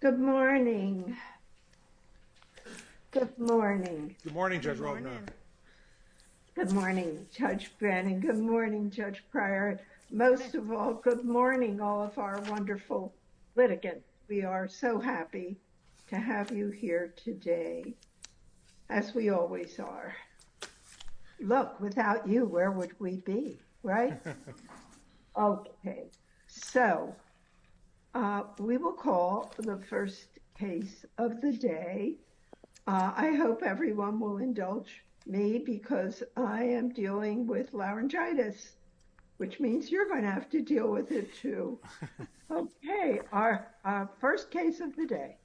Good morning, Judge Brennan. Good morning, Judge Pryor. Most of all, good morning, all of our wonderful litigants. We are so happy to have you here today, as we always are. Look, without you, where would we be, right? Okay, so we will call the first case of the day. I hope everyone will indulge me because I am dealing with laryngitis, which means you're going to have to deal with it too. Okay, our first case of the day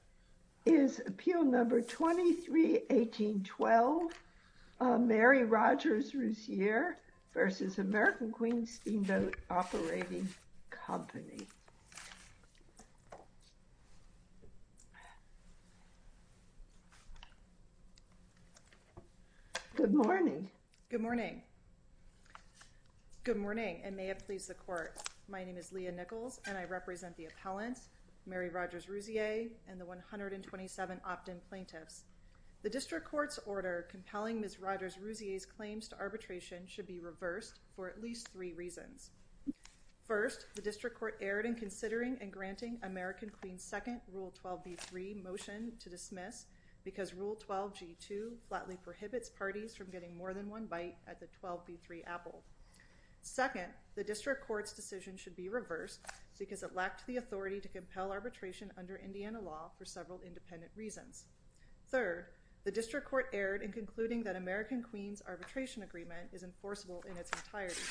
is Appeal Number 23-1812, Mary Rodgers-Rouzier v. American Queen Steamboat Operating Company. Good morning. Good morning. Good morning, and may it please the Court. My name is Leah Nichols, and I represent the appellant, Mary Rodgers-Rouzier, and the 127 opt-in plaintiffs. The District Court's order compelling Ms. Rodgers-Rouzier's claims to arbitration should be reversed for at least three reasons. First, the District Court erred in considering and granting American Queen's second Rule 12b-3 motion to dismiss because Rule 12g-2 flatly prohibits parties from getting more than one bite at the 12b-3 apple. Second, the District Court's decision should be reversed because it lacked the authority to compel arbitration under Indiana law for several independent reasons. Third, the District Court erred in concluding that American Queen's arbitration agreement is enforceable in its entirety.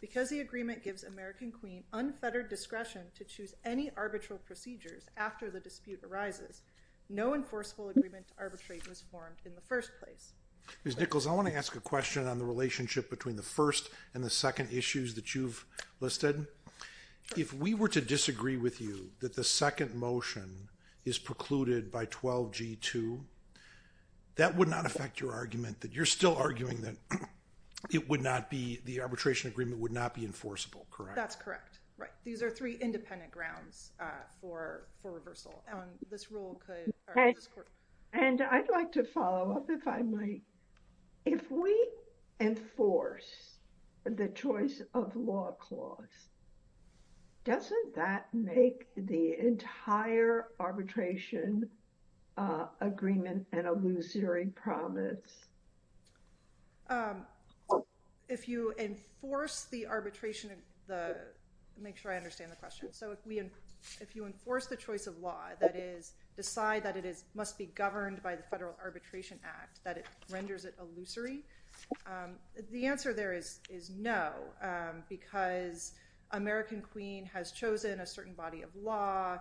Because the agreement gives American Queen unfettered discretion to choose any arbitral procedures after the dispute arises, no enforceable agreement to arbitrate was formed in the first place. Ms. Nichols, I want to ask a question on the relationship between the first and the second issues that you've listed. If we were to disagree with you that the second motion is precluded by 12g-2, that would not affect your argument that you're still arguing that it would not be, the arbitration agreement would not be enforceable, correct? That's correct. Right. These are three independent grounds for reversal. And I'd like to follow up if I might. If we enforce the choice of law clause, doesn't that make the entire arbitration agreement an illusory promise? If you enforce the arbitration, make sure I understand the question. So if you enforce the choice of law, that is, decide that it must be governed by the Federal Arbitration Act, that it renders it illusory. The answer there is no, because American Queen has chosen a certain body of law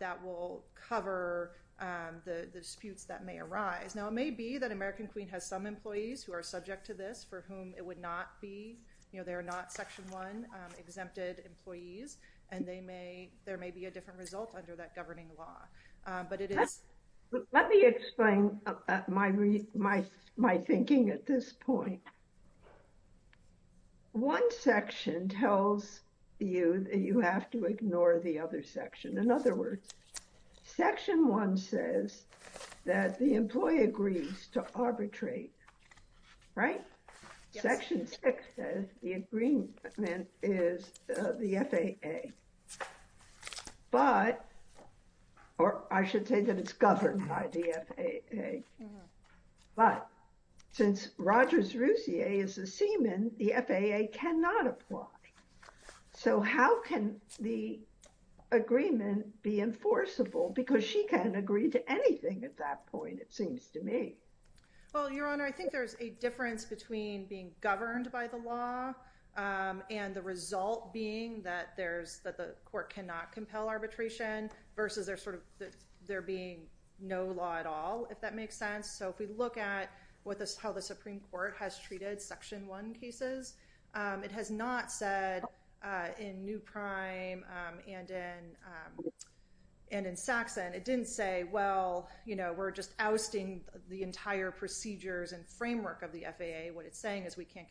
that will cover the disputes that may arise. Now, it may be that American Queen has some employees who are subject to this for whom it would not be, you know, they're not Section 1 exempted employees, and they may, there may be a different result under that governing law. Let me explain my thinking at this point. One section tells you that you have to ignore the other section. In other words, Section 1 says that the employee agrees to arbitrate, right? Section 6 says the agreement is the FAA. But, or I should say that it's governed by the FAA. But since Rogers Rousier is a seaman, the FAA cannot apply. So how can the agreement be enforceable? Because she can agree to anything at that point, it seems to me. Well, Your Honor, I think there's a difference between being governed by the law and the result being that there's, that the court cannot compel arbitration versus there sort of, there being no law at all, if that makes sense. So if we look at what the, how the Supreme Court has treated Section 1 cases, it has not said in New Prime and in Saxon, it didn't say, well, you know, we're just ousting the entire procedures and framework of the FAA. We can't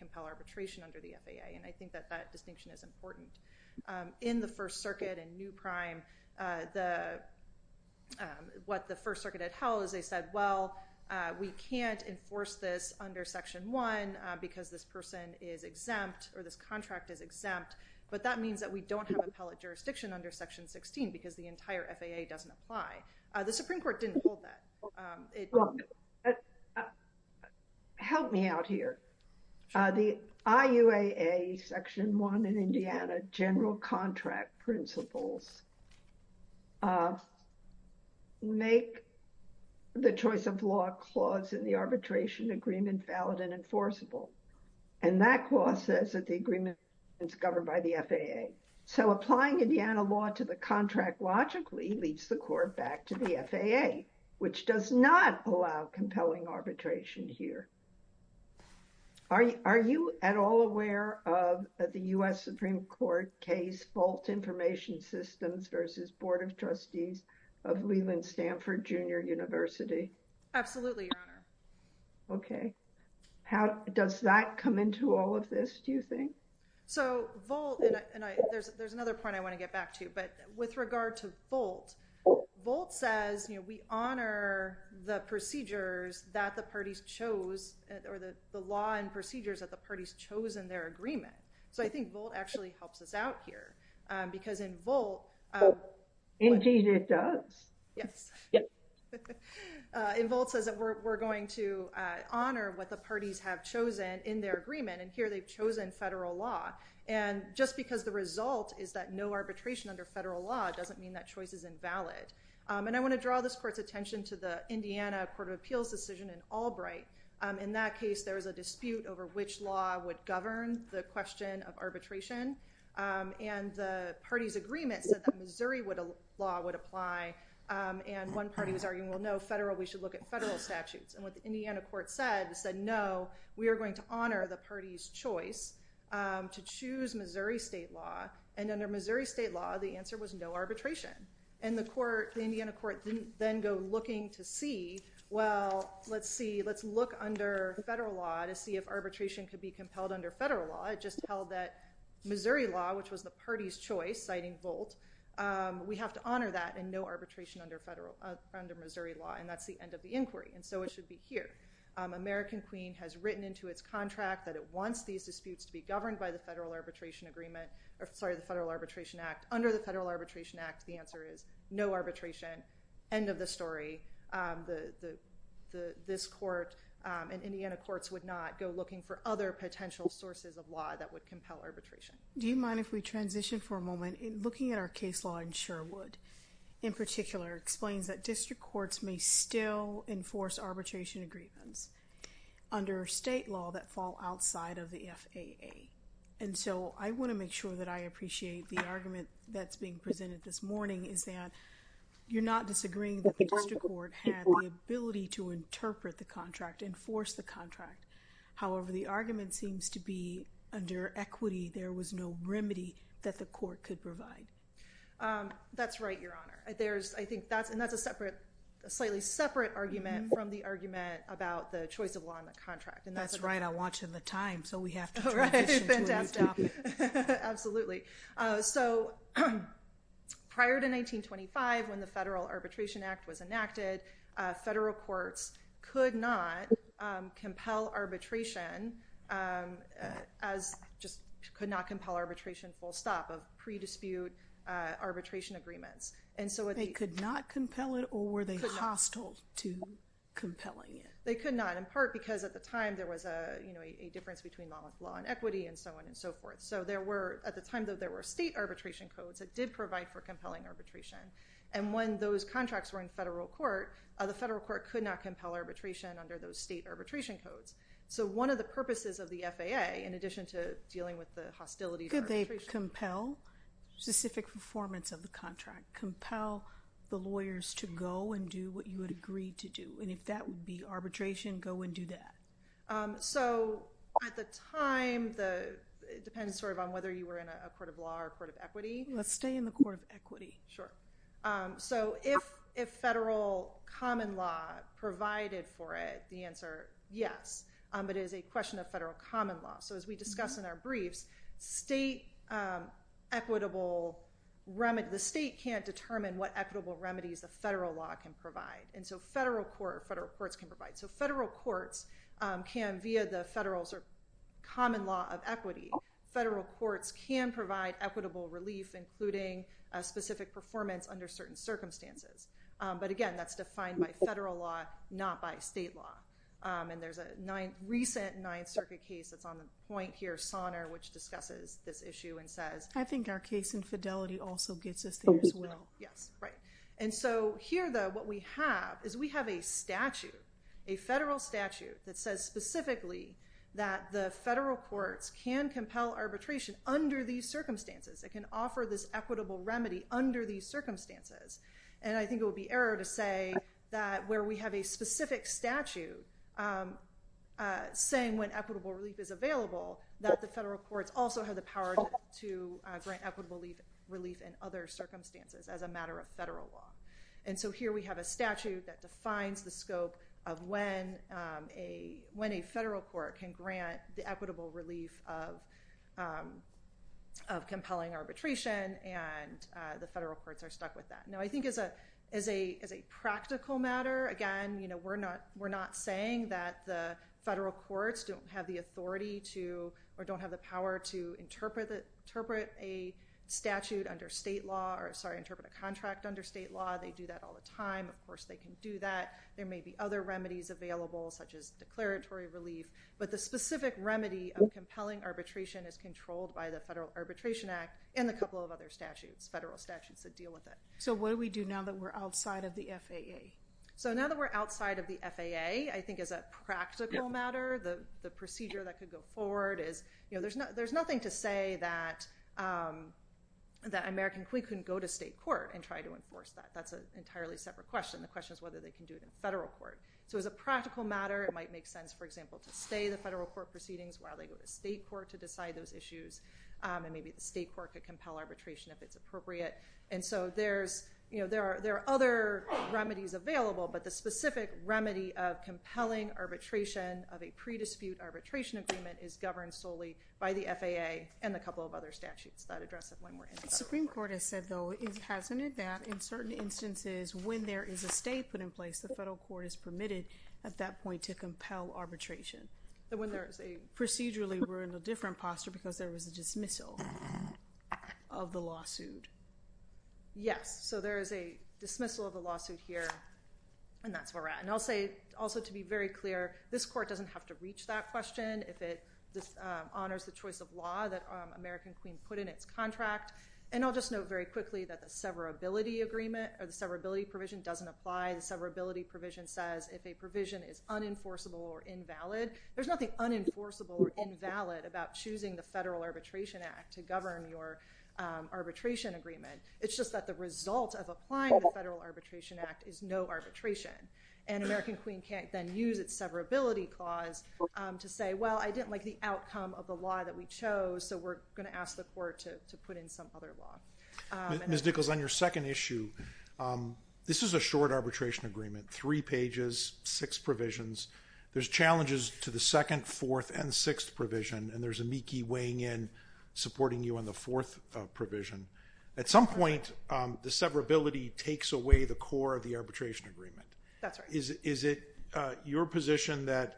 enforce this under Section 1 because this person is exempt or this contract is exempt. But that means that we don't have appellate jurisdiction under Section 16 because the entire FAA doesn't apply. The Supreme Court didn't hold that. Help me out here. The IUAA Section 1 in Indiana general contract principles make the choice of law clause in the arbitration agreement valid and enforceable. And that clause says that the agreement is governed by the FAA. So applying Indiana law to the contract logically leads the court back to the FAA, which does not allow compelling arbitration here. Are you at all aware of the U.S. Supreme Court case Fault Information Systems versus Board of Trustees of Leland Stanford Junior University? Absolutely, Your Honor. Okay. How does that come into all of this, do you think? So Vault, and there's another point I want to get back to, but with regard to Vault, Vault says, you know, we honor the procedures that the parties chose or the law and procedures that the parties chose in their agreement. So I think Vault actually helps us out here because in Vault. Indeed it does. Yes. In Vault says that we're going to honor what the parties have chosen in their agreement and here they've chosen federal law. And just because the result is that no arbitration under federal law doesn't mean that choice is invalid. And I want to draw this court's attention to the Indiana Court of Appeals decision in Albright. In that case, there was a dispute over which law would govern the question of arbitration. And the party's agreement said that Missouri law would apply. And one party was arguing, well, no, federal, we should look at federal statutes. And what the Indiana court said, it said, no, we are going to honor the party's choice to choose Missouri state law. And under Missouri state law, the answer was no arbitration. And the court, the Indiana court, didn't then go looking to see, well, let's see, let's look under federal law to see if arbitration could be compelled under federal law. It just held that Missouri law, which was the party's choice, citing Vault, we have to honor that and no arbitration under Missouri law. And that's the end of the inquiry. And so it should be here. American Queen has written into its contract that it wants these disputes to be governed by the federal arbitration agreement, sorry, the Federal Arbitration Act. Under the Federal Arbitration Act, the answer is no arbitration. End of the story. This court and Indiana courts would not go looking for other potential sources of law that would compel arbitration. Do you mind if we transition for a moment? Looking at our case law in Sherwood, in particular, explains that district courts may still enforce arbitration agreements under state law that fall outside of the FAA. And so I want to make sure that I appreciate the argument that's being presented this morning is that you're not disagreeing that the district court had the ability to interpret the contract, enforce the contract. However, the argument seems to be under equity, there was no remedy that the court could provide. That's right, Your Honor. And that's a slightly separate argument from the argument about the choice of law in the contract. That's right, I want you on the time, so we have to transition to a new topic. Absolutely. So, prior to 1925 when the Federal Arbitration Act was enacted, federal courts could not compel arbitration as just could not compel arbitration full stop of pre dispute arbitration agreements. They could not compel it or were they hostile to compelling it? They could not, in part because at the time there was a difference between law and equity and so on and so forth. So there were, at the time though, there were state arbitration codes that did provide for compelling arbitration. And when those contracts were in federal court, the federal court could not compel arbitration under those state arbitration codes. So one of the purposes of the FAA, in addition to dealing with the hostility to arbitration. Could they compel specific performance of the contract, compel the lawyers to go and do what you would agree to do? And if that would be arbitration, go and do that. So, at the time, it depends sort of on whether you were in a court of law or a court of equity. Let's stay in the court of equity. So if federal common law provided for it, the answer, yes. But it is a question of federal common law. So as we discussed in our briefs, the state can't determine what equitable remedies the federal law can provide. And so federal courts can provide. So federal courts can, via the Federal Common Law of Equity, federal courts can provide equitable relief, including specific performance under certain circumstances. But again, that's defined by federal law, not by state law. And there's a recent Ninth Circuit case that's on the point here, Sonner, which discusses this issue and says. I think our case infidelity also gets us there as well. Yes, right. And so here, though, what we have is we have a statute, a federal statute, that says specifically that the federal courts can compel arbitration under these circumstances. It can offer this equitable remedy under these circumstances. And I think it would be error to say that where we have a specific statute saying when equitable relief is available, that the federal courts also have the power to grant equitable relief in other circumstances as a matter of federal law. And so here we have a statute that defines the scope of when a federal court can grant the equitable relief of compelling arbitration. And the federal courts are stuck with that. Now, I think as a practical matter, again, we're not saying that the federal courts don't have the authority to, or don't have the power to interpret a statute under state law, or, sorry, interpret a contract under state law. They do that all the time. Of course, they can do that. There may be other remedies available, such as declaratory relief. But the specific remedy of compelling arbitration is controlled by the Federal Arbitration Act and a couple of other statutes, federal statutes that deal with it. So what do we do now that we're outside of the FAA? So now that we're outside of the FAA, I think as a practical matter, the procedure that could go forward is, there's nothing to say that American Queen couldn't go to state court and try to enforce that. That's an entirely separate question. The question is whether they can do it in federal court. So as a practical matter, it might make sense, for example, to stay the federal court proceedings while they go to state court to decide those issues. And maybe the state court could compel arbitration if it's appropriate. And so there are other remedies available. But the specific remedy of compelling arbitration of a pre-dispute arbitration agreement is governed solely by the FAA and a couple of other statutes that address it when we're in federal court. The Supreme Court has said, though, hasn't it, that in certain instances, when there is a stay put in place, the federal court is permitted at that point to compel arbitration. Procedurally, we're in a different posture because there was a dismissal of the lawsuit. Yes. So there is a dismissal of the lawsuit here. And that's where we're at. And I'll say also to be very clear, this court doesn't have to reach that question if it honors the choice of law that American Queen put in its contract. And I'll just note very quickly that the severability agreement or the severability provision doesn't apply. The severability provision says if a provision is unenforceable or invalid, there's nothing unenforceable or invalid about choosing the Federal Arbitration Act to govern your arbitration agreement. It's just that the result of applying the Federal Arbitration Act is no arbitration. And American Queen can't then use its severability clause to say, well, I didn't like the outcome of the law that we chose, so we're going to ask the court to put in some other law. Ms. Nichols, on your second issue, this is a short arbitration agreement, three pages, six provisions. There's challenges to the second, fourth, and sixth provision, and there's amici weighing in supporting you on the fourth provision. At some point, the severability takes away the core of the arbitration agreement. That's right. Is it your position that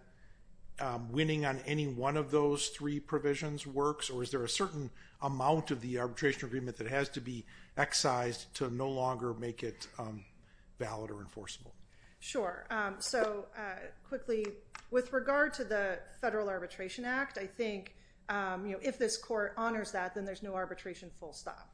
winning on any one of those three provisions works, or is there a certain amount of the arbitration agreement that has to be excised to no longer make it valid or enforceable? Sure. So quickly, with regard to the Federal Arbitration Act, I think if this court honors that, then there's no arbitration full stop.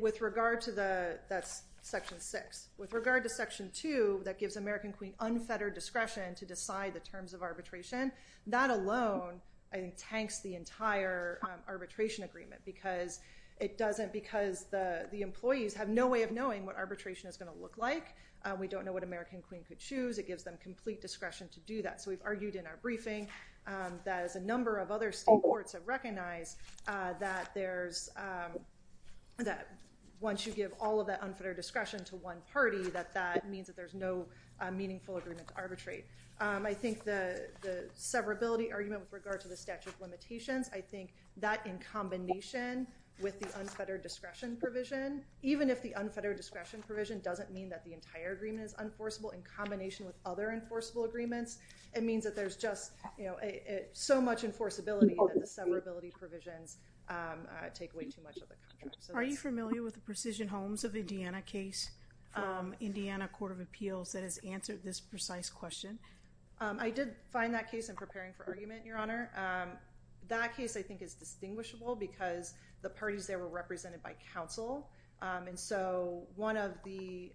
With regard to the—that's Section 6. With regard to Section 2, that gives American Queen unfettered discretion to decide the terms of arbitration. That alone, I think, tanks the entire arbitration agreement because it doesn't— because the employees have no way of knowing what arbitration is going to look like. We don't know what American Queen could choose. It gives them complete discretion to do that. So we've argued in our briefing that, as a number of other state courts have recognized, that there's—that once you give all of that unfettered discretion to one party, that that means that there's no meaningful agreement to arbitrate. I think the severability argument with regard to the statute of limitations, I think that in combination with the unfettered discretion provision, even if the unfettered discretion provision doesn't mean that the entire agreement is enforceable, in combination with other enforceable agreements, it means that there's just so much enforceability that the severability provisions take away too much of the contract. Are you familiar with the Precision Homes of Indiana case from Indiana Court of Appeals that has answered this precise question? I did find that case in preparing for argument, Your Honor. That case, I think, is distinguishable because the parties there were represented by counsel. And so one of the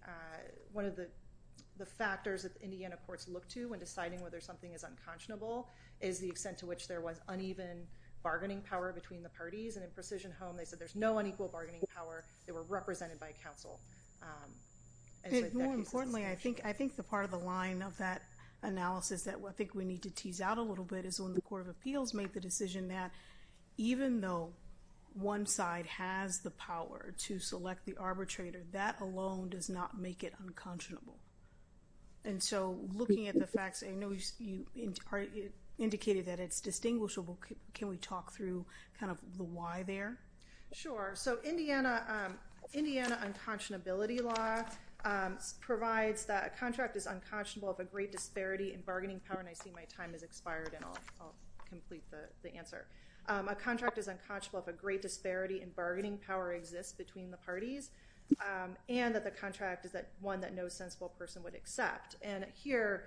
factors that Indiana courts look to when deciding whether something is unconscionable is the extent to which there was uneven bargaining power between the parties. And in Precision Homes, they said there's no unequal bargaining power. They were represented by counsel. And so that case is distinguishable. More importantly, I think the part of the line of that analysis that I think we need to tease out a little bit is when the Court of Appeals made the decision that even though one side has the power to select the arbitrator, that alone does not make it unconscionable. And so looking at the facts, I know you indicated that it's distinguishable. Can we talk through kind of the why there? Sure. So Indiana unconscionability law provides that a contract is unconscionable if a great disparity in bargaining power and I see my time has expired and I'll complete the answer. A contract is unconscionable if a great disparity in bargaining power exists between the parties and that the contract is one that no sensible person would accept. And here,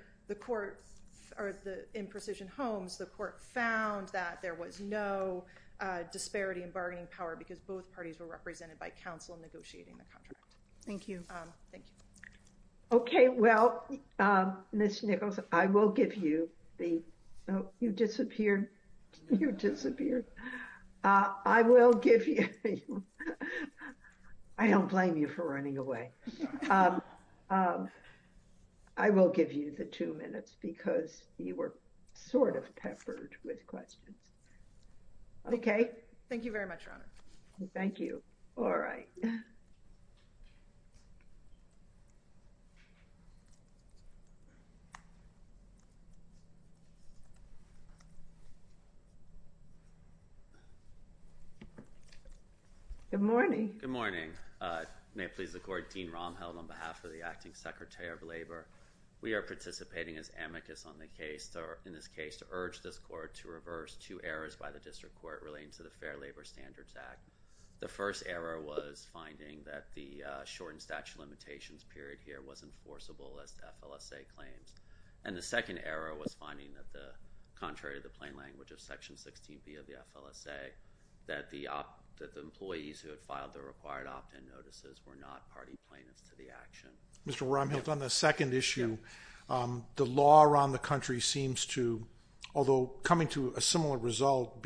in Precision Homes, the court found that there was no disparity in bargaining power because both parties were represented by counsel negotiating the contract. Thank you. Thank you. Okay. Well, Ms. Nichols, I will give you the... Oh, you disappeared. You disappeared. I will give you... I don't blame you for running away. I will give you the two minutes because you were sort of peppered with questions. Okay. Thank you very much, Your Honor. Thank you. All right. Good morning. Good morning. May it please the court, Dean Romheld on behalf of the Acting Secretary of Labor. We are participating as amicus on the case, in this case, to urge this court to reverse two errors by the district court relating to the Fair Labor Standards Act. The first error was finding that the shortened statute of limitations period here was enforceable as the FLSA claims. And the second error was finding that contrary to the plain language of Section 16B of the FLSA, that the employees who had filed the required opt-in notices were not party plaintiffs to the action. Mr. Romheld, on the second issue, the law around the country seems to, although coming to a similar result,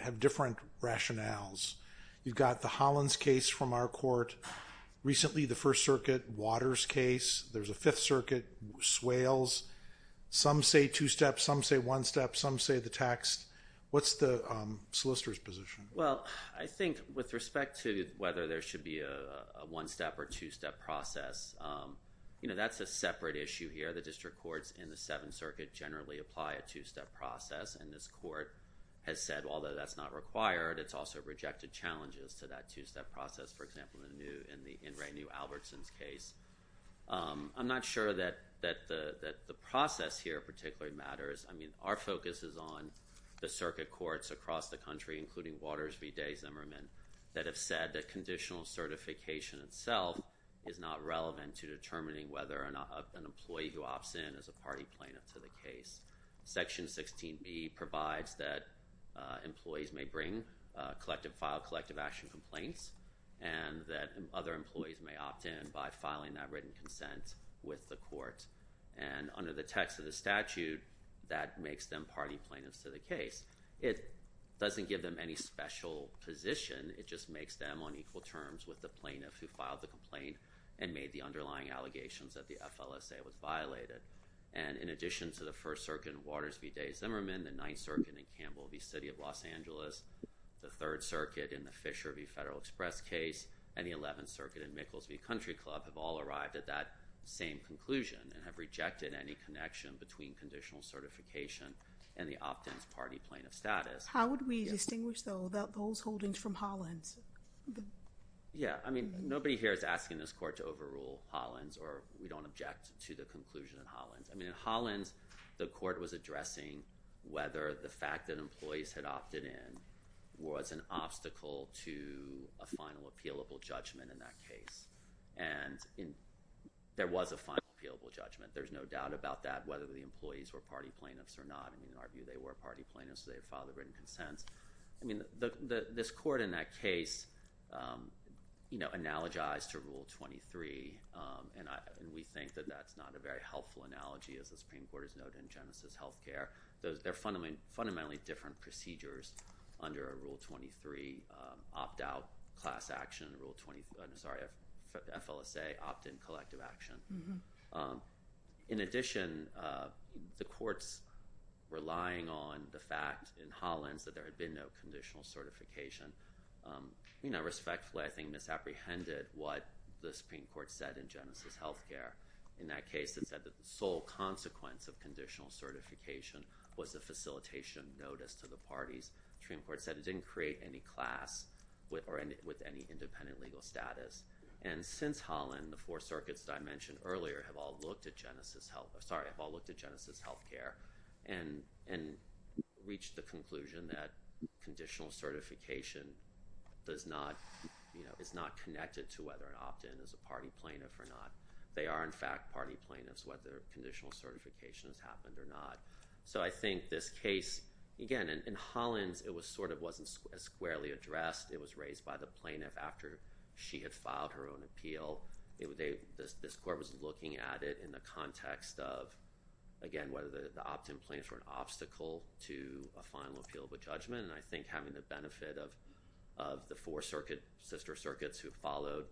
have different rationales. You've got the Hollins case from our court. Recently, the First Circuit Waters case. There's a Fifth Circuit, Swales. Some say two steps. Some say one step. Some say the text. What's the solicitor's position? Well, I think with respect to whether there should be a one-step or two-step process, you know, that's a separate issue here. The district courts in the Seventh Circuit generally apply a two-step process. And this court has said, although that's not required, it's also rejected challenges to that two-step process, for example, in Ray New Albertson's case. I'm not sure that the process here particularly matters. I mean, our focus is on the circuit courts across the country, including Waters v. Day-Zimmerman, that have said that conditional certification itself is not relevant to determining whether an employee who opts in is a party plaintiff to the case. Section 16B provides that employees may bring, file collective action complaints, and that other employees may opt in by filing that written consent with the court. And under the text of the statute, that makes them party plaintiffs to the case. It doesn't give them any special position. It just makes them on equal terms with the plaintiff who filed the complaint and made the underlying allegations that the FLSA was violated. And in addition to the First Circuit in Waters v. Day-Zimmerman, the Ninth Circuit in Campbell v. City of Los Angeles, the Third Circuit in the Fisher v. Federal Express case, and the Eleventh Circuit in Micklesvie Country Club have all arrived at that same conclusion and have rejected any connection between conditional certification and the opt-ins party plaintiff status. How would we distinguish, though, those holdings from Hollins? Yeah, I mean, nobody here is asking this court to overrule Hollins, or we don't object to the conclusion in Hollins. I mean, in Hollins, the court was addressing whether the fact that employees had opted in was an obstacle to a final appealable judgment in that case. And there was a final appealable judgment. There's no doubt about that, whether the employees were party plaintiffs or not. I mean, in our view, they were party plaintiffs, so they had filed their written consents. I mean, this court in that case analogized to Rule 23, and we think that that's not a very helpful analogy, as the Supreme Court has noted in Genesis Healthcare. They're fundamentally different procedures under a Rule 23 opt-out class action, sorry, an FLSA opt-in collective action. In addition, the courts relying on the fact in Hollins that there had been no conditional certification, I mean, I respectfully, I think, misapprehended what the Supreme Court said in Genesis Healthcare. In that case, it said that the sole consequence of conditional certification was a facilitation notice to the parties. The Supreme Court said it didn't create any class with any independent legal status. And since Hollins, the four circuits that I mentioned earlier have all looked at Genesis Healthcare and reached the conclusion that conditional certification is not connected to whether an opt-in is a party plaintiff or not. They are, in fact, party plaintiffs, whether conditional certification has happened or not. So I think this case, again, in Hollins, it sort of wasn't as squarely addressed. It was raised by the plaintiff after she had filed her own appeal. This court was looking at it in the context of, again, whether the opt-in plaintiffs were an obstacle to a final appeal of a judgment. And I think having the benefit of the four sister circuits who followed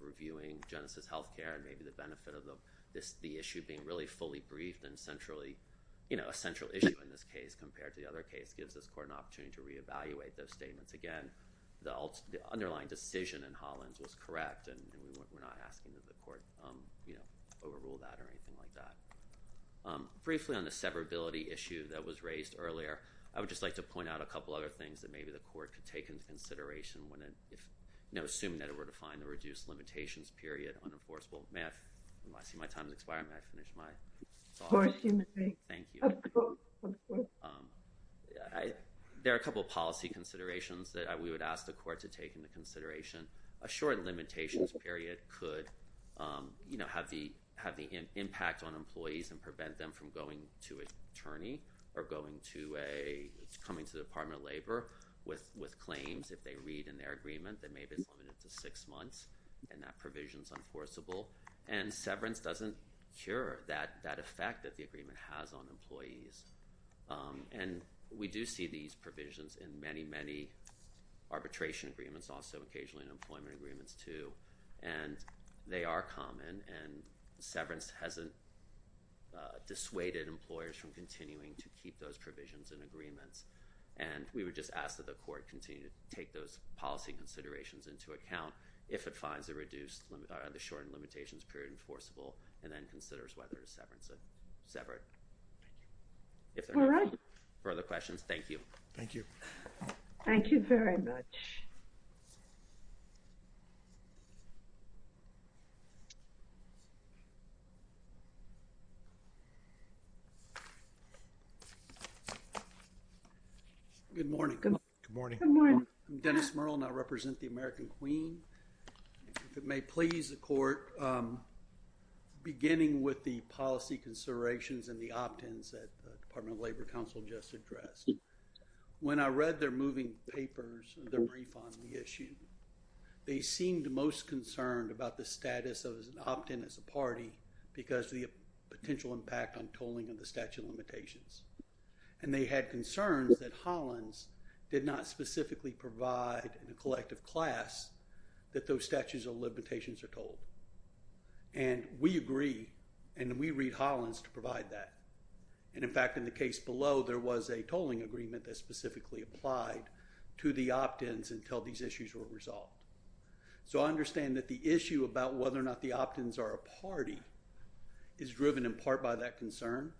reviewing Genesis Healthcare and maybe the benefit of the issue being really fully briefed and a central issue in this case compared to the other case gives this court an opportunity to reevaluate those statements. Again, the underlying decision in Hollins was correct, and we're not asking that the court overrule that or anything like that. Briefly on the severability issue that was raised earlier, I would just like to point out a couple other things that maybe the court could take into consideration when assuming that it were to find the reduced limitations period unenforceable. There are a couple of policy considerations that we would ask the court to take into consideration. A short limitations period could have the impact on employees and prevent them from going to an attorney or coming to the Department of Labor with claims if they read in their agreement that maybe it's limited to six months and that provision's enforceable. And severance doesn't cure that effect that the agreement has on employees. And we do see these provisions in many, many arbitration agreements, also occasionally in employment agreements, too. And they are common, and severance hasn't dissuaded employers from continuing to keep those provisions in agreements. And we would just ask that the court continue to take those policy considerations into account if it finds the shortened limitations period enforceable and then considers whether it's severed. All right. Further questions? Thank you. Thank you. Thank you very much. Good morning. Good morning. I'm Dennis Merle, and I represent the American Queen. If it may please the court, beginning with the policy considerations and the opt-ins that the Department of Labor Counsel just addressed, when I read their moving papers, their brief on the issue, they seemed most concerned about the status of an opt-in as a party because of the potential impact on tolling of the statute of limitations. And they had concerns that Hollins did not specifically provide in a collective class that those statutes of limitations are tolled. And we agree, and we read Hollins to provide that. And, in fact, in the case below, there was a tolling agreement that specifically applied to the opt-ins until these issues were resolved. So I understand that the issue about whether or not the opt-ins are a party is driven in part by that concern,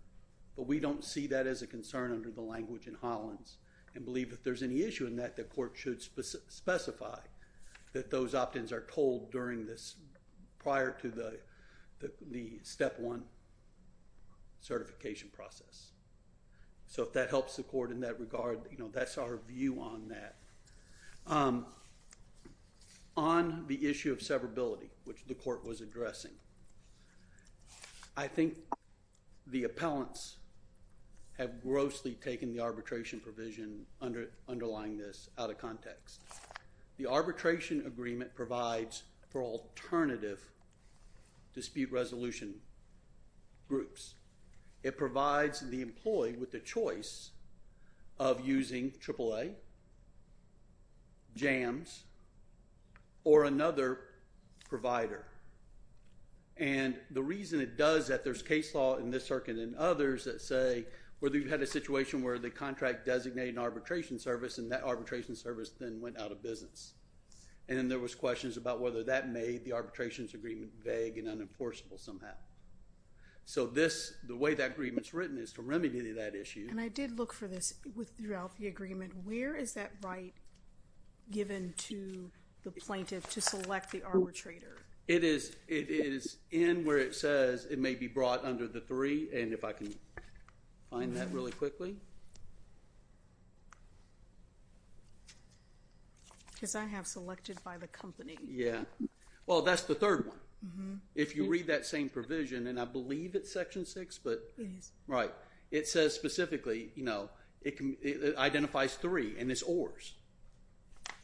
but we don't see that as a concern under the language in Hollins and believe if there's any issue in that, the court should specify that those opt-ins are tolled prior to the Step 1 certification process. So if that helps the court in that regard, that's our view on that. On the issue of severability, which the court was addressing, I think the appellants have grossly taken the arbitration provision underlying this out of context. The arbitration agreement provides for alternative dispute resolution groups. It provides the employee with the choice of using AAA, JAMS, or another provider. And the reason it does that, there's case law in this circuit and others that say whether you've had a situation where the contract designated an arbitration service and that arbitration service then went out of business. And then there was questions about whether that made the arbitrations agreement vague and unenforceable somehow. So the way that agreement's written is to remedy that issue. And I did look for this throughout the agreement. Where is that right given to the plaintiff to select the arbitrator? It is in where it says it may be brought under the three. And if I can find that really quickly. Because I have selected by the company. Yeah. Well, that's the third one. If you read that same provision, and I believe it's section six. It is. Right. It says specifically, it identifies three, and it's ORs.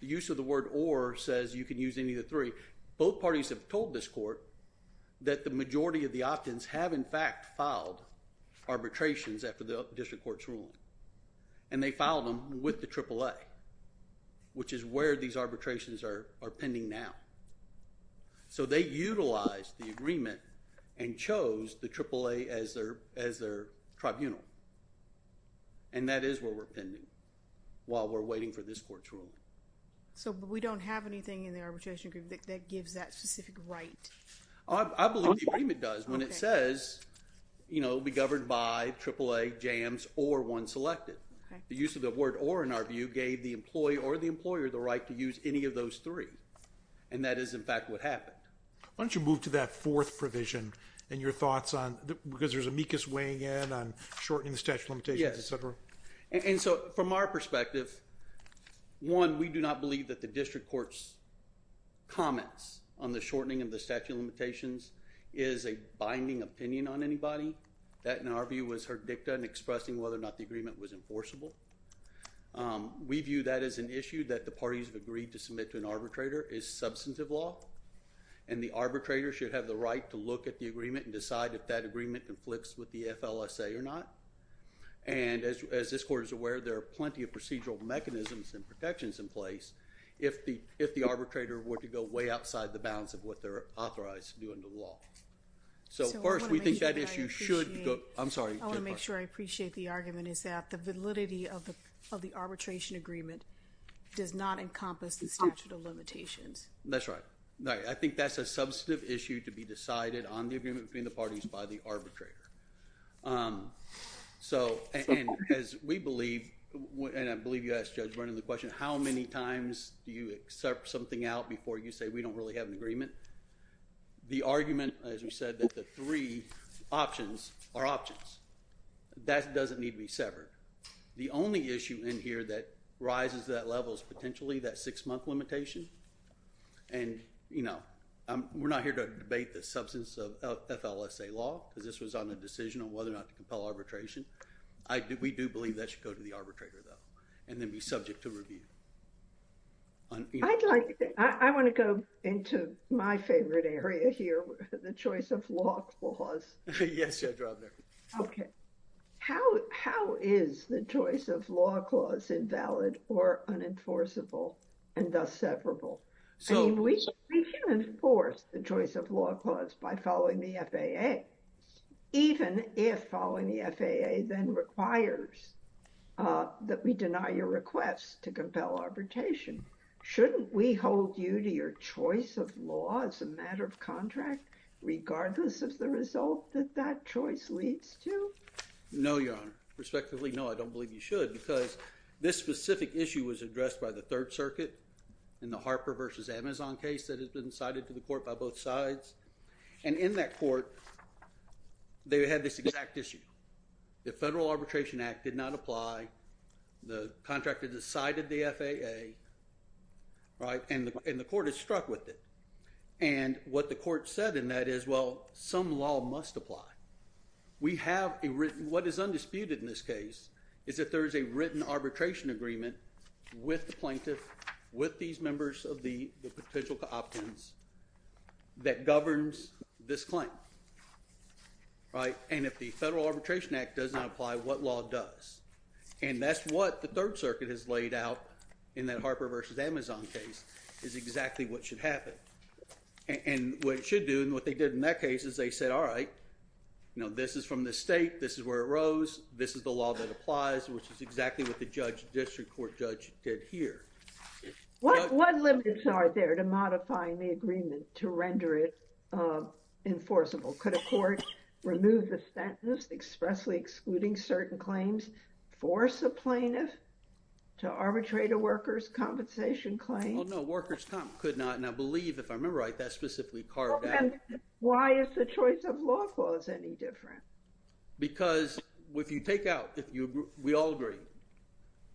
The use of the word OR says you can use any of the three. Both parties have told this court that the majority of the opt-ins have, in fact, filed arbitrations after the district court's ruling. And they filed them with the AAA, which is where these arbitrations are pending now. So they utilized the agreement and chose the AAA as their tribunal. And that is where we're pending while we're waiting for this court's ruling. So we don't have anything in the arbitration agreement that gives that specific right? I believe the agreement does when it says, you know, be governed by AAA, JAMS, or one selected. The use of the word OR, in our view, gave the employee or the employer the right to use any of those three. And that is, in fact, what happened. Why don't you move to that fourth provision and your thoughts on, because there's amicus weighing in on shortening the statute of limitations, et cetera. Yes. And so, from our perspective, one, we do not believe that the district court's comments on the shortening of the statute of limitations is a binding opinion on anybody. That, in our view, was herdicta in expressing whether or not the agreement was enforceable. We view that as an issue that the parties have agreed to submit to an arbitrator is substantive law. And the arbitrator should have the right to look at the agreement and decide if that agreement conflicts with the FLSA or not. And, as this court is aware, there are plenty of procedural mechanisms and protections in place if the arbitrator were to go way outside the bounds of what they're authorized to do under the law. So, first, we think that issue should go. I'm sorry. I want to make sure I appreciate the argument is that the validity of the arbitration agreement does not encompass the statute of limitations. That's right. I think that's a substantive issue to be decided on the agreement between the parties by the arbitrator. So, as we believe, and I believe you asked Judge Vernon the question, how many times do you accept something out before you say we don't really have an agreement? The argument, as we said, that the three options are options. That doesn't need to be severed. The only issue in here that rises to that level is potentially that six-month limitation. And, you know, we're not here to debate the substance of FLSA law because this was on a decision on whether or not to compel arbitration. We do believe that should go to the arbitrator, though, and then be subject to review. I'd like I want to go into my favorite area here, the choice of law clause. Yes. Okay. How how is the choice of law clause invalid or unenforceable and thus severable? We can enforce the choice of law clause by following the FAA, even if following the FAA then requires that we deny your request to compel arbitration. Shouldn't we hold you to your choice of law as a matter of contract, regardless of the result that that choice leads to? No, Your Honor. Respectively, no, I don't believe you should because this specific issue was addressed by the Third Circuit in the Harper versus Amazon case that has been cited to the court by both sides. And in that court, they had this exact issue. The Federal Arbitration Act did not apply. The contractor decided the FAA, right, and the court is struck with it. And what the court said in that is, well, some law must apply. We have a written what is undisputed in this case is that there is a written arbitration agreement with the plaintiff, with these members of the potential opt-ins that governs this claim. Right. And if the Federal Arbitration Act does not apply, what law does? And that's what the Third Circuit has laid out in that Harper versus Amazon case is exactly what should happen. And what it should do and what they did in that case is they said, all right, you know, this is from the state. This is where it rose. This is the law that applies, which is exactly what the judge, district court judge, did here. What limits are there to modifying the agreement to render it enforceable? Could a court remove the sentence expressly excluding certain claims, force a plaintiff to arbitrate a worker's compensation claim? Well, no, workers could not. And I believe, if I remember right, that's specifically carved out. And why is the choice of law clause any different? Because if you take out, we all agree,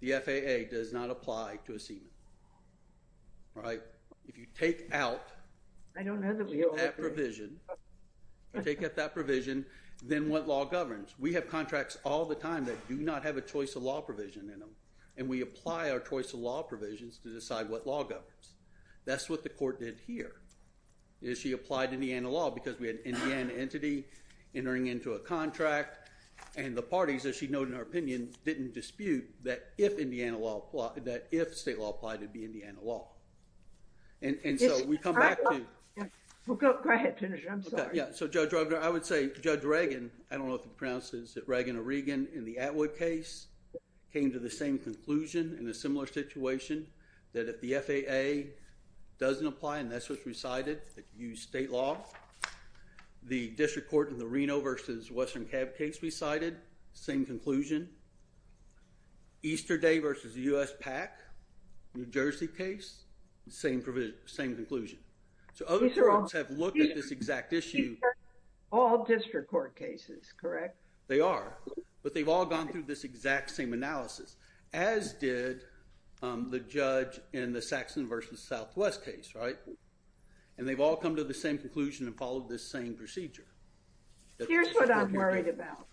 the FAA does not apply to a seaman. All right. If you take out that provision, then what law governs? We have contracts all the time that do not have a choice of law provision in them. And we apply our choice of law provisions to decide what law governs. That's what the court did here is she applied Indiana law because we had an Indiana entity entering into a contract. And the parties, as she noted in her opinion, didn't dispute that if state law applied, it would be Indiana law. And so we come back to. Well, go ahead. I'm sorry. I would say Judge Reagan, I don't know if he pronounces it, Reagan or Regan, in the Atwood case came to the same conclusion in a similar situation that if the FAA doesn't apply and that's what's recited, that you use state law. The district court in the Reno versus Western CAB case recited, same conclusion. Easter Day versus the US PAC, New Jersey case, same conclusion. So other courts have looked at this exact issue. These are all district court cases, correct? They are. But they've all gone through this exact same analysis, as did the judge in the Saxon versus Southwest case, right? And they've all come to the same conclusion and followed this same procedure. Here's what I'm worried about.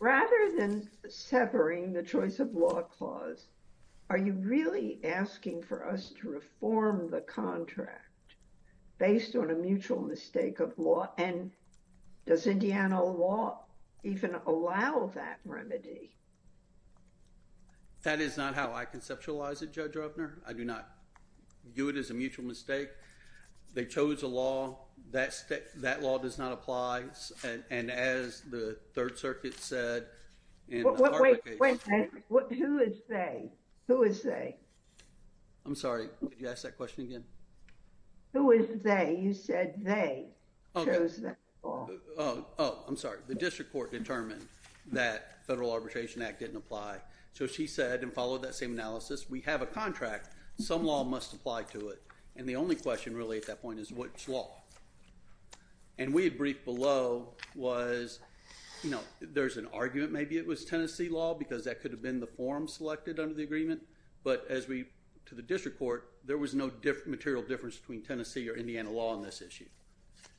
Rather than severing the choice of law clause, are you really asking for us to reform the contract based on a mutual mistake of law? And does Indiana law even allow that remedy? That is not how I conceptualize it, Judge Roebner. I do not view it as a mutual mistake. They chose a law. That law does not apply. And as the Third Circuit said... Wait, wait, wait. Who is they? Who is they? I'm sorry. Could you ask that question again? Who is they? You said they chose that law. Oh, I'm sorry. The district court determined that Federal Arbitration Act didn't apply. So she said, and followed that same analysis, we have a contract. Some law must apply to it. And the only question really at that point is which law? And we had briefed below was, you know, there's an argument maybe it was Tennessee law because that could have been the form selected under the agreement. But as we, to the district court, there was no material difference between Tennessee or Indiana law on this issue.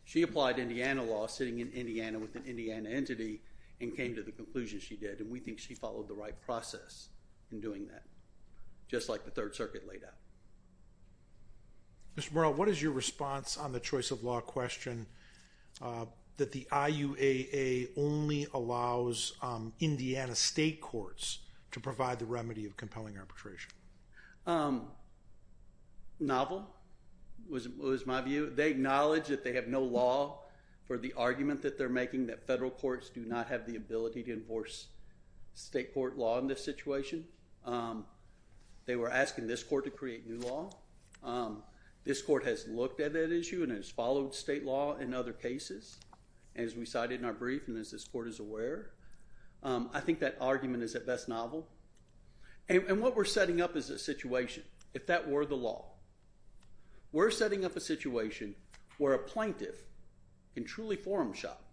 She applied Indiana law sitting in Indiana with an Indiana entity and came to the conclusion she did. And we think she followed the right process in doing that, just like the Third Circuit laid out. Mr. Murrell, what is your response on the choice of law question that the IUAA only allows Indiana state courts to provide the remedy of compelling arbitration? Novel was my view. They acknowledge that they have no law for the argument that they're making that federal courts do not have the ability to enforce state court law in this situation. They were asking this court to create new law. This court has looked at that issue and has followed state law in other cases, as we cited in our brief and as this court is aware. I think that argument is at best novel. And what we're setting up is a situation, if that were the law. We're setting up a situation where a plaintiff can truly forum shop.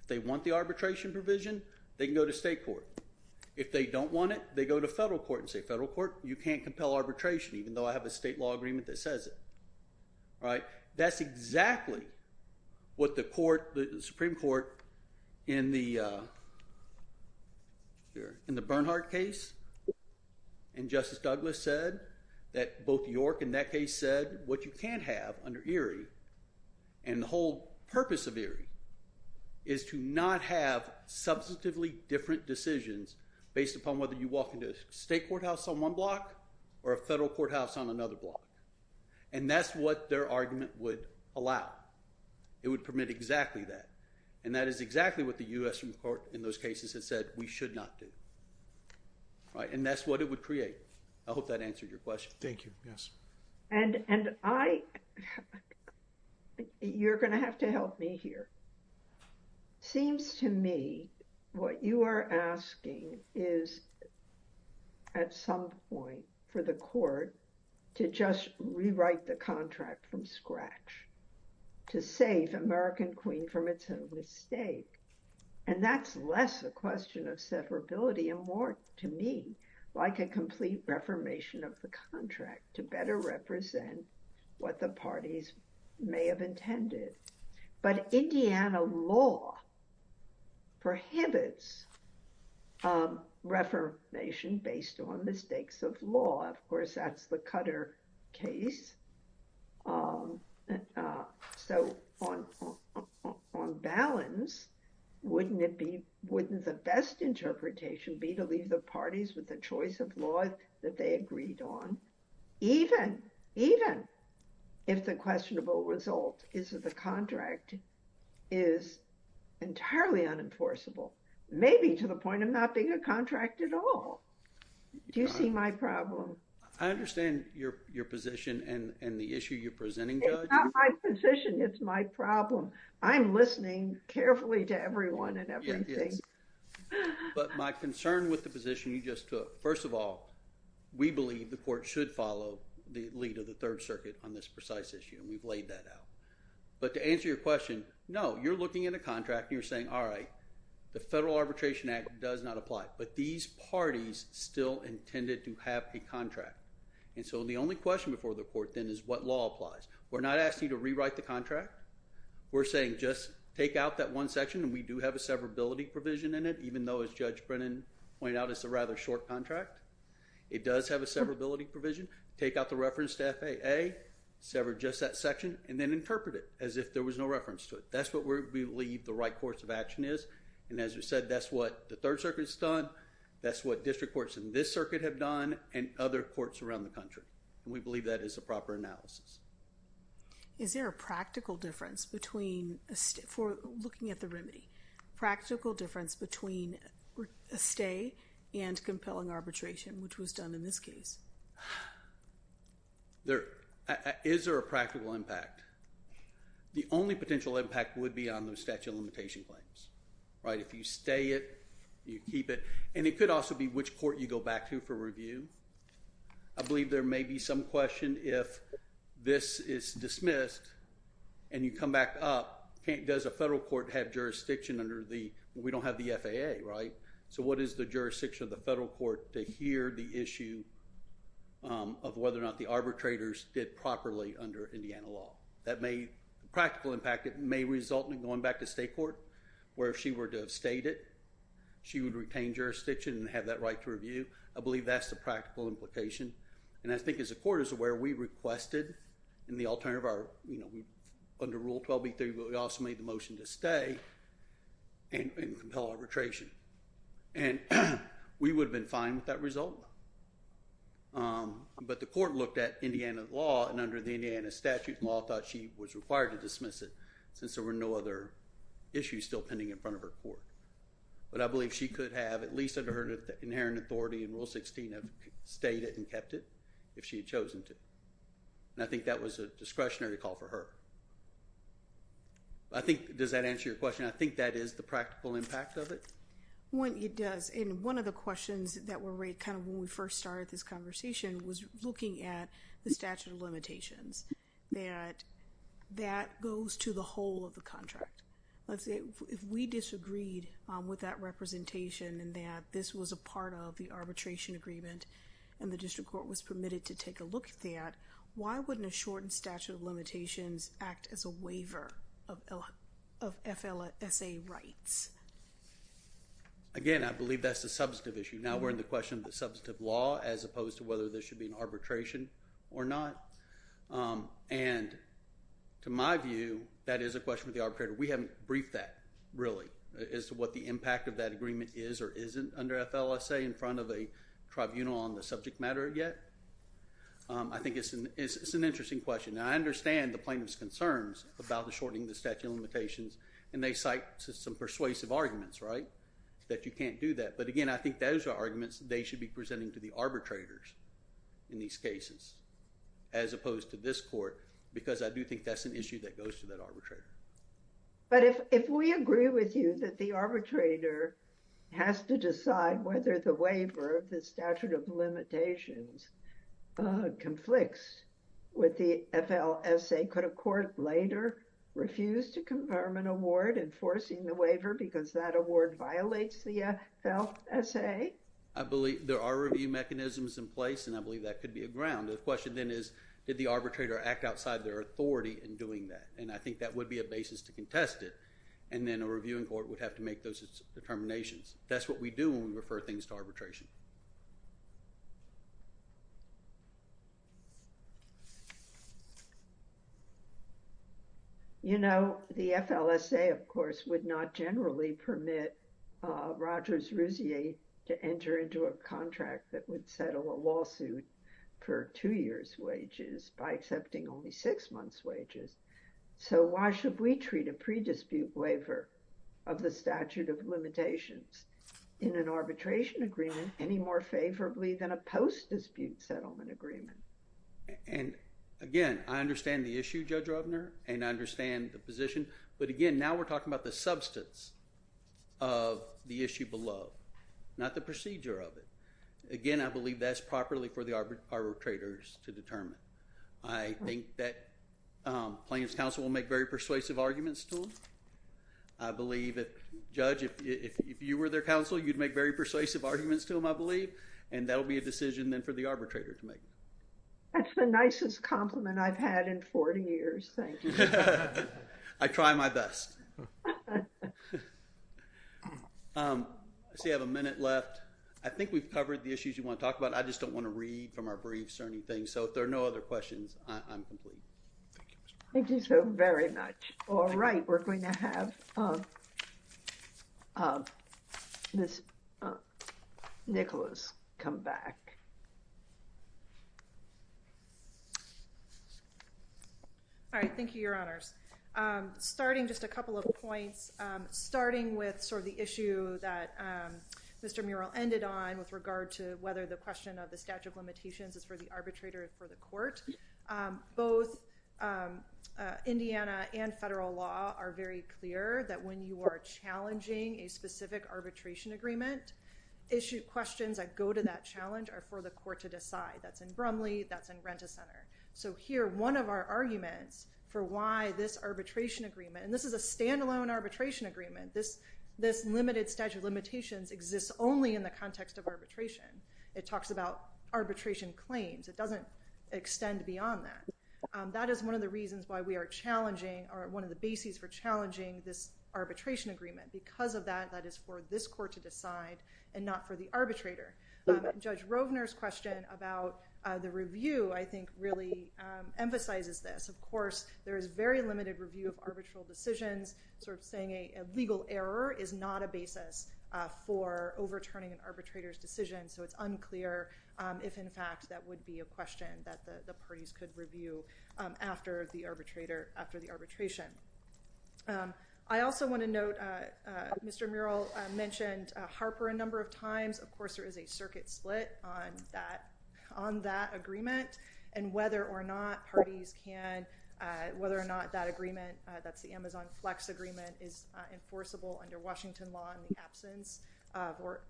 If they want the arbitration provision, they can go to state court. If they don't want it, they go to federal court and say, federal court, you can't compel arbitration, even though I have a state law agreement that says it. All right. That's exactly what the court, the Supreme Court, in the Bernhardt case and Justice Douglas said that both York in that case said what you can't have under Erie. And the whole purpose of Erie is to not have substantively different decisions based upon whether you walk into a state courthouse on one block or a federal courthouse on another block. And that's what their argument would allow. It would permit exactly that. And that is exactly what the U.S. Supreme Court in those cases has said we should not do. And that's what it would create. I hope that answered your question. Thank you. Yes. And I think you're going to have to help me here. Seems to me what you are asking is at some point for the court to just rewrite the contract from scratch to save American Queen from its own mistake. And that's less a question of severability and more to me like a complete reformation of the contract to better represent what the parties may have intended. But Indiana law prohibits reformation based on mistakes of law. Of course, that's the Cutter case. So on balance, wouldn't it be wouldn't the best interpretation be to leave the parties with the choice of law that they agreed on? Even if the questionable result is that the contract is entirely unenforceable, maybe to the point of not being a contract at all. Do you see my problem? I understand your position and the issue you're presenting, Judge. It's not my position. It's my problem. I'm listening carefully to everyone and everything. Yes. But my concern with the position you just took, first of all, we believe the court should follow the lead of the Third Circuit on this precise issue. And we've laid that out. But to answer your question, no, you're looking at a contract and you're saying, all right, the Federal Arbitration Act does not apply. But these parties still intended to have a contract. And so the only question before the court, then, is what law applies. We're not asking you to rewrite the contract. We're saying just take out that one section, and we do have a severability provision in it, even though, as Judge Brennan pointed out, it's a rather short contract. It does have a severability provision. Take out the reference to FAA, sever just that section, and then interpret it as if there was no reference to it. That's what we believe the right course of action is. And as you said, that's what the Third Circuit's done. That's what district courts in this circuit have done and other courts around the country. And we believe that is a proper analysis. Is there a practical difference between, for looking at the remedy, practical difference between a stay and compelling arbitration, which was done in this case? Is there a practical impact? The only potential impact would be on those statute of limitation claims, right? If you stay it, you keep it. And it could also be which court you go back to for review. I believe there may be some question if this is dismissed and you come back up, does a federal court have jurisdiction under the—we don't have the FAA, right? So what is the jurisdiction of the federal court to hear the issue of whether or not the arbitrators did properly under Indiana law? That may—practical impact, it may result in going back to state court where if she were to have stayed it, she would retain jurisdiction and have that right to review. I believe that's the practical implication. And I think as the court is aware, we requested in the alternative of our—under Rule 12b3, we also made the motion to stay and compel arbitration. And we would have been fine with that result. But the court looked at Indiana law and under the Indiana statute, the law thought she was required to dismiss it since there were no other issues still pending in front of her court. But I believe she could have, at least under her inherent authority in Rule 16, have stayed it and kept it if she had chosen to. And I think that was a discretionary call for her. I think—does that answer your question? I think that is the practical impact of it. It does. And one of the questions that were raised kind of when we first started this conversation was looking at the statute of limitations, that that goes to the whole of the contract. Let's say if we disagreed with that representation and that this was a part of the arbitration agreement and the district court was permitted to take a look at that, why wouldn't a shortened statute of limitations act as a waiver of FLSA rights? Again, I believe that's a substantive issue. Now we're in the question of the substantive law as opposed to whether there should be an arbitration or not. And to my view, that is a question of the arbitrator. We haven't briefed that, really, as to what the impact of that agreement is or isn't under FLSA in front of a tribunal on the subject matter yet. I think it's an interesting question. Now I understand the plaintiff's concerns about the shortening of the statute of limitations, and they cite some persuasive arguments, right, that you can't do that. But again, I think those are arguments they should be presenting to the arbitrators in these cases as opposed to this court because I do think that's an issue that goes to that arbitrator. But if we agree with you that the arbitrator has to decide whether the waiver of the statute of limitations conflicts with the FLSA, could a court later refuse to confirm an award enforcing the waiver because that award violates the FLSA? I believe there are review mechanisms in place, and I believe that could be a ground. The question then is, did the arbitrator act outside their authority in doing that? And I think that would be a basis to contest it. And then a reviewing court would have to make those determinations. That's what we do when we refer things to arbitration. You know, the FLSA, of course, would not generally permit Rogers Rousier to enter into a contract that would settle a lawsuit for two years' wages by accepting only six months' wages. So why should we treat a pre-dispute waiver of the statute of limitations in an arbitration agreement any more favorably than a post-dispute settlement agreement? And again, I understand the issue, Judge Rubner, and I understand the position. But again, now we're talking about the substance of the issue below, not the procedure of it. Again, I believe that's properly for the arbitrators to determine. I think that plaintiff's counsel will make very persuasive arguments to them. I believe if, Judge, if you were their counsel, you'd make very persuasive arguments to them, I believe. And that will be a decision then for the arbitrator to make. That's the nicest compliment I've had in 40 years. Thank you. I try my best. I see I have a minute left. I think we've covered the issues you want to talk about. I just don't want to read from our briefs or anything. So if there are no other questions, I'm complete. Thank you so very much. All right. We're going to have Miss Nicholas come back. All right. Thank you, Your Honors. Starting just a couple of points, starting with sort of the issue that Mr. Murrell ended on with regard to whether the question of the statute of limitations is for the arbitrator or for the court. Both Indiana and federal law are very clear that when you are challenging a specific arbitration agreement, questions that go to that challenge are for the court to decide. That's in Brumley. That's in Renta Center. So here, one of our arguments for why this arbitration agreement, and this is a standalone arbitration agreement, this limited statute of limitations exists only in the context of arbitration. It talks about arbitration claims. It doesn't extend beyond that. That is one of the reasons why we are challenging or one of the bases for challenging this arbitration agreement. Because of that, that is for this court to decide and not for the arbitrator. Judge Rovner's question about the review, I think, really emphasizes this. Of course, there is very limited review of arbitral decisions. Sort of saying a legal error is not a basis for overturning an arbitrator's decision. So it's unclear if, in fact, that would be a question that the parties could review after the arbitration. I also want to note Mr. Murrell mentioned Harper a number of times. Of course, there is a circuit split on that agreement. And whether or not parties can, whether or not that agreement, that's the Amazon Flex agreement, is enforceable under Washington law in the absence or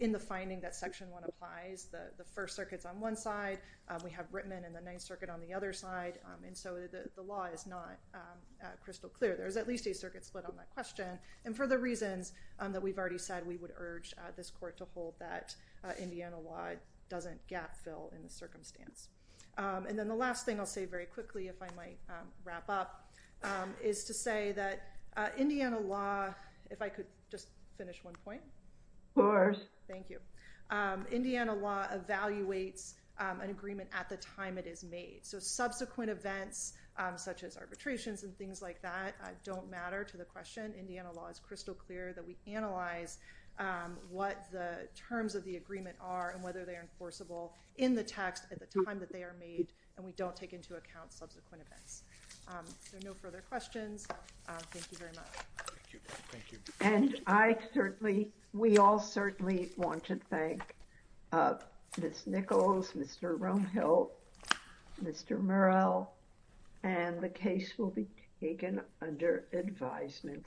in the finding that Section 1 applies. The First Circuit's on one side. We have Rittman and the Ninth Circuit on the other side. And so the law is not crystal clear. There is at least a circuit split on that question. And for the reasons that we've already said, we would urge this court to hold that Indiana law doesn't gap fill in the circumstance. And then the last thing I'll say very quickly, if I might wrap up, is to say that Indiana law, if I could just finish one point. Of course. Thank you. Indiana law evaluates an agreement at the time it is made. So subsequent events such as arbitrations and things like that don't matter to the question. Indiana law is crystal clear that we analyze what the terms of the agreement are and whether they are enforceable in the text at the time that they are made. And we don't take into account subsequent events. No further questions. Thank you very much. And I certainly, we all certainly want to thank Ms. Nichols, Mr. Romehill, Mr. Murrell. And the case will be taken under advisement.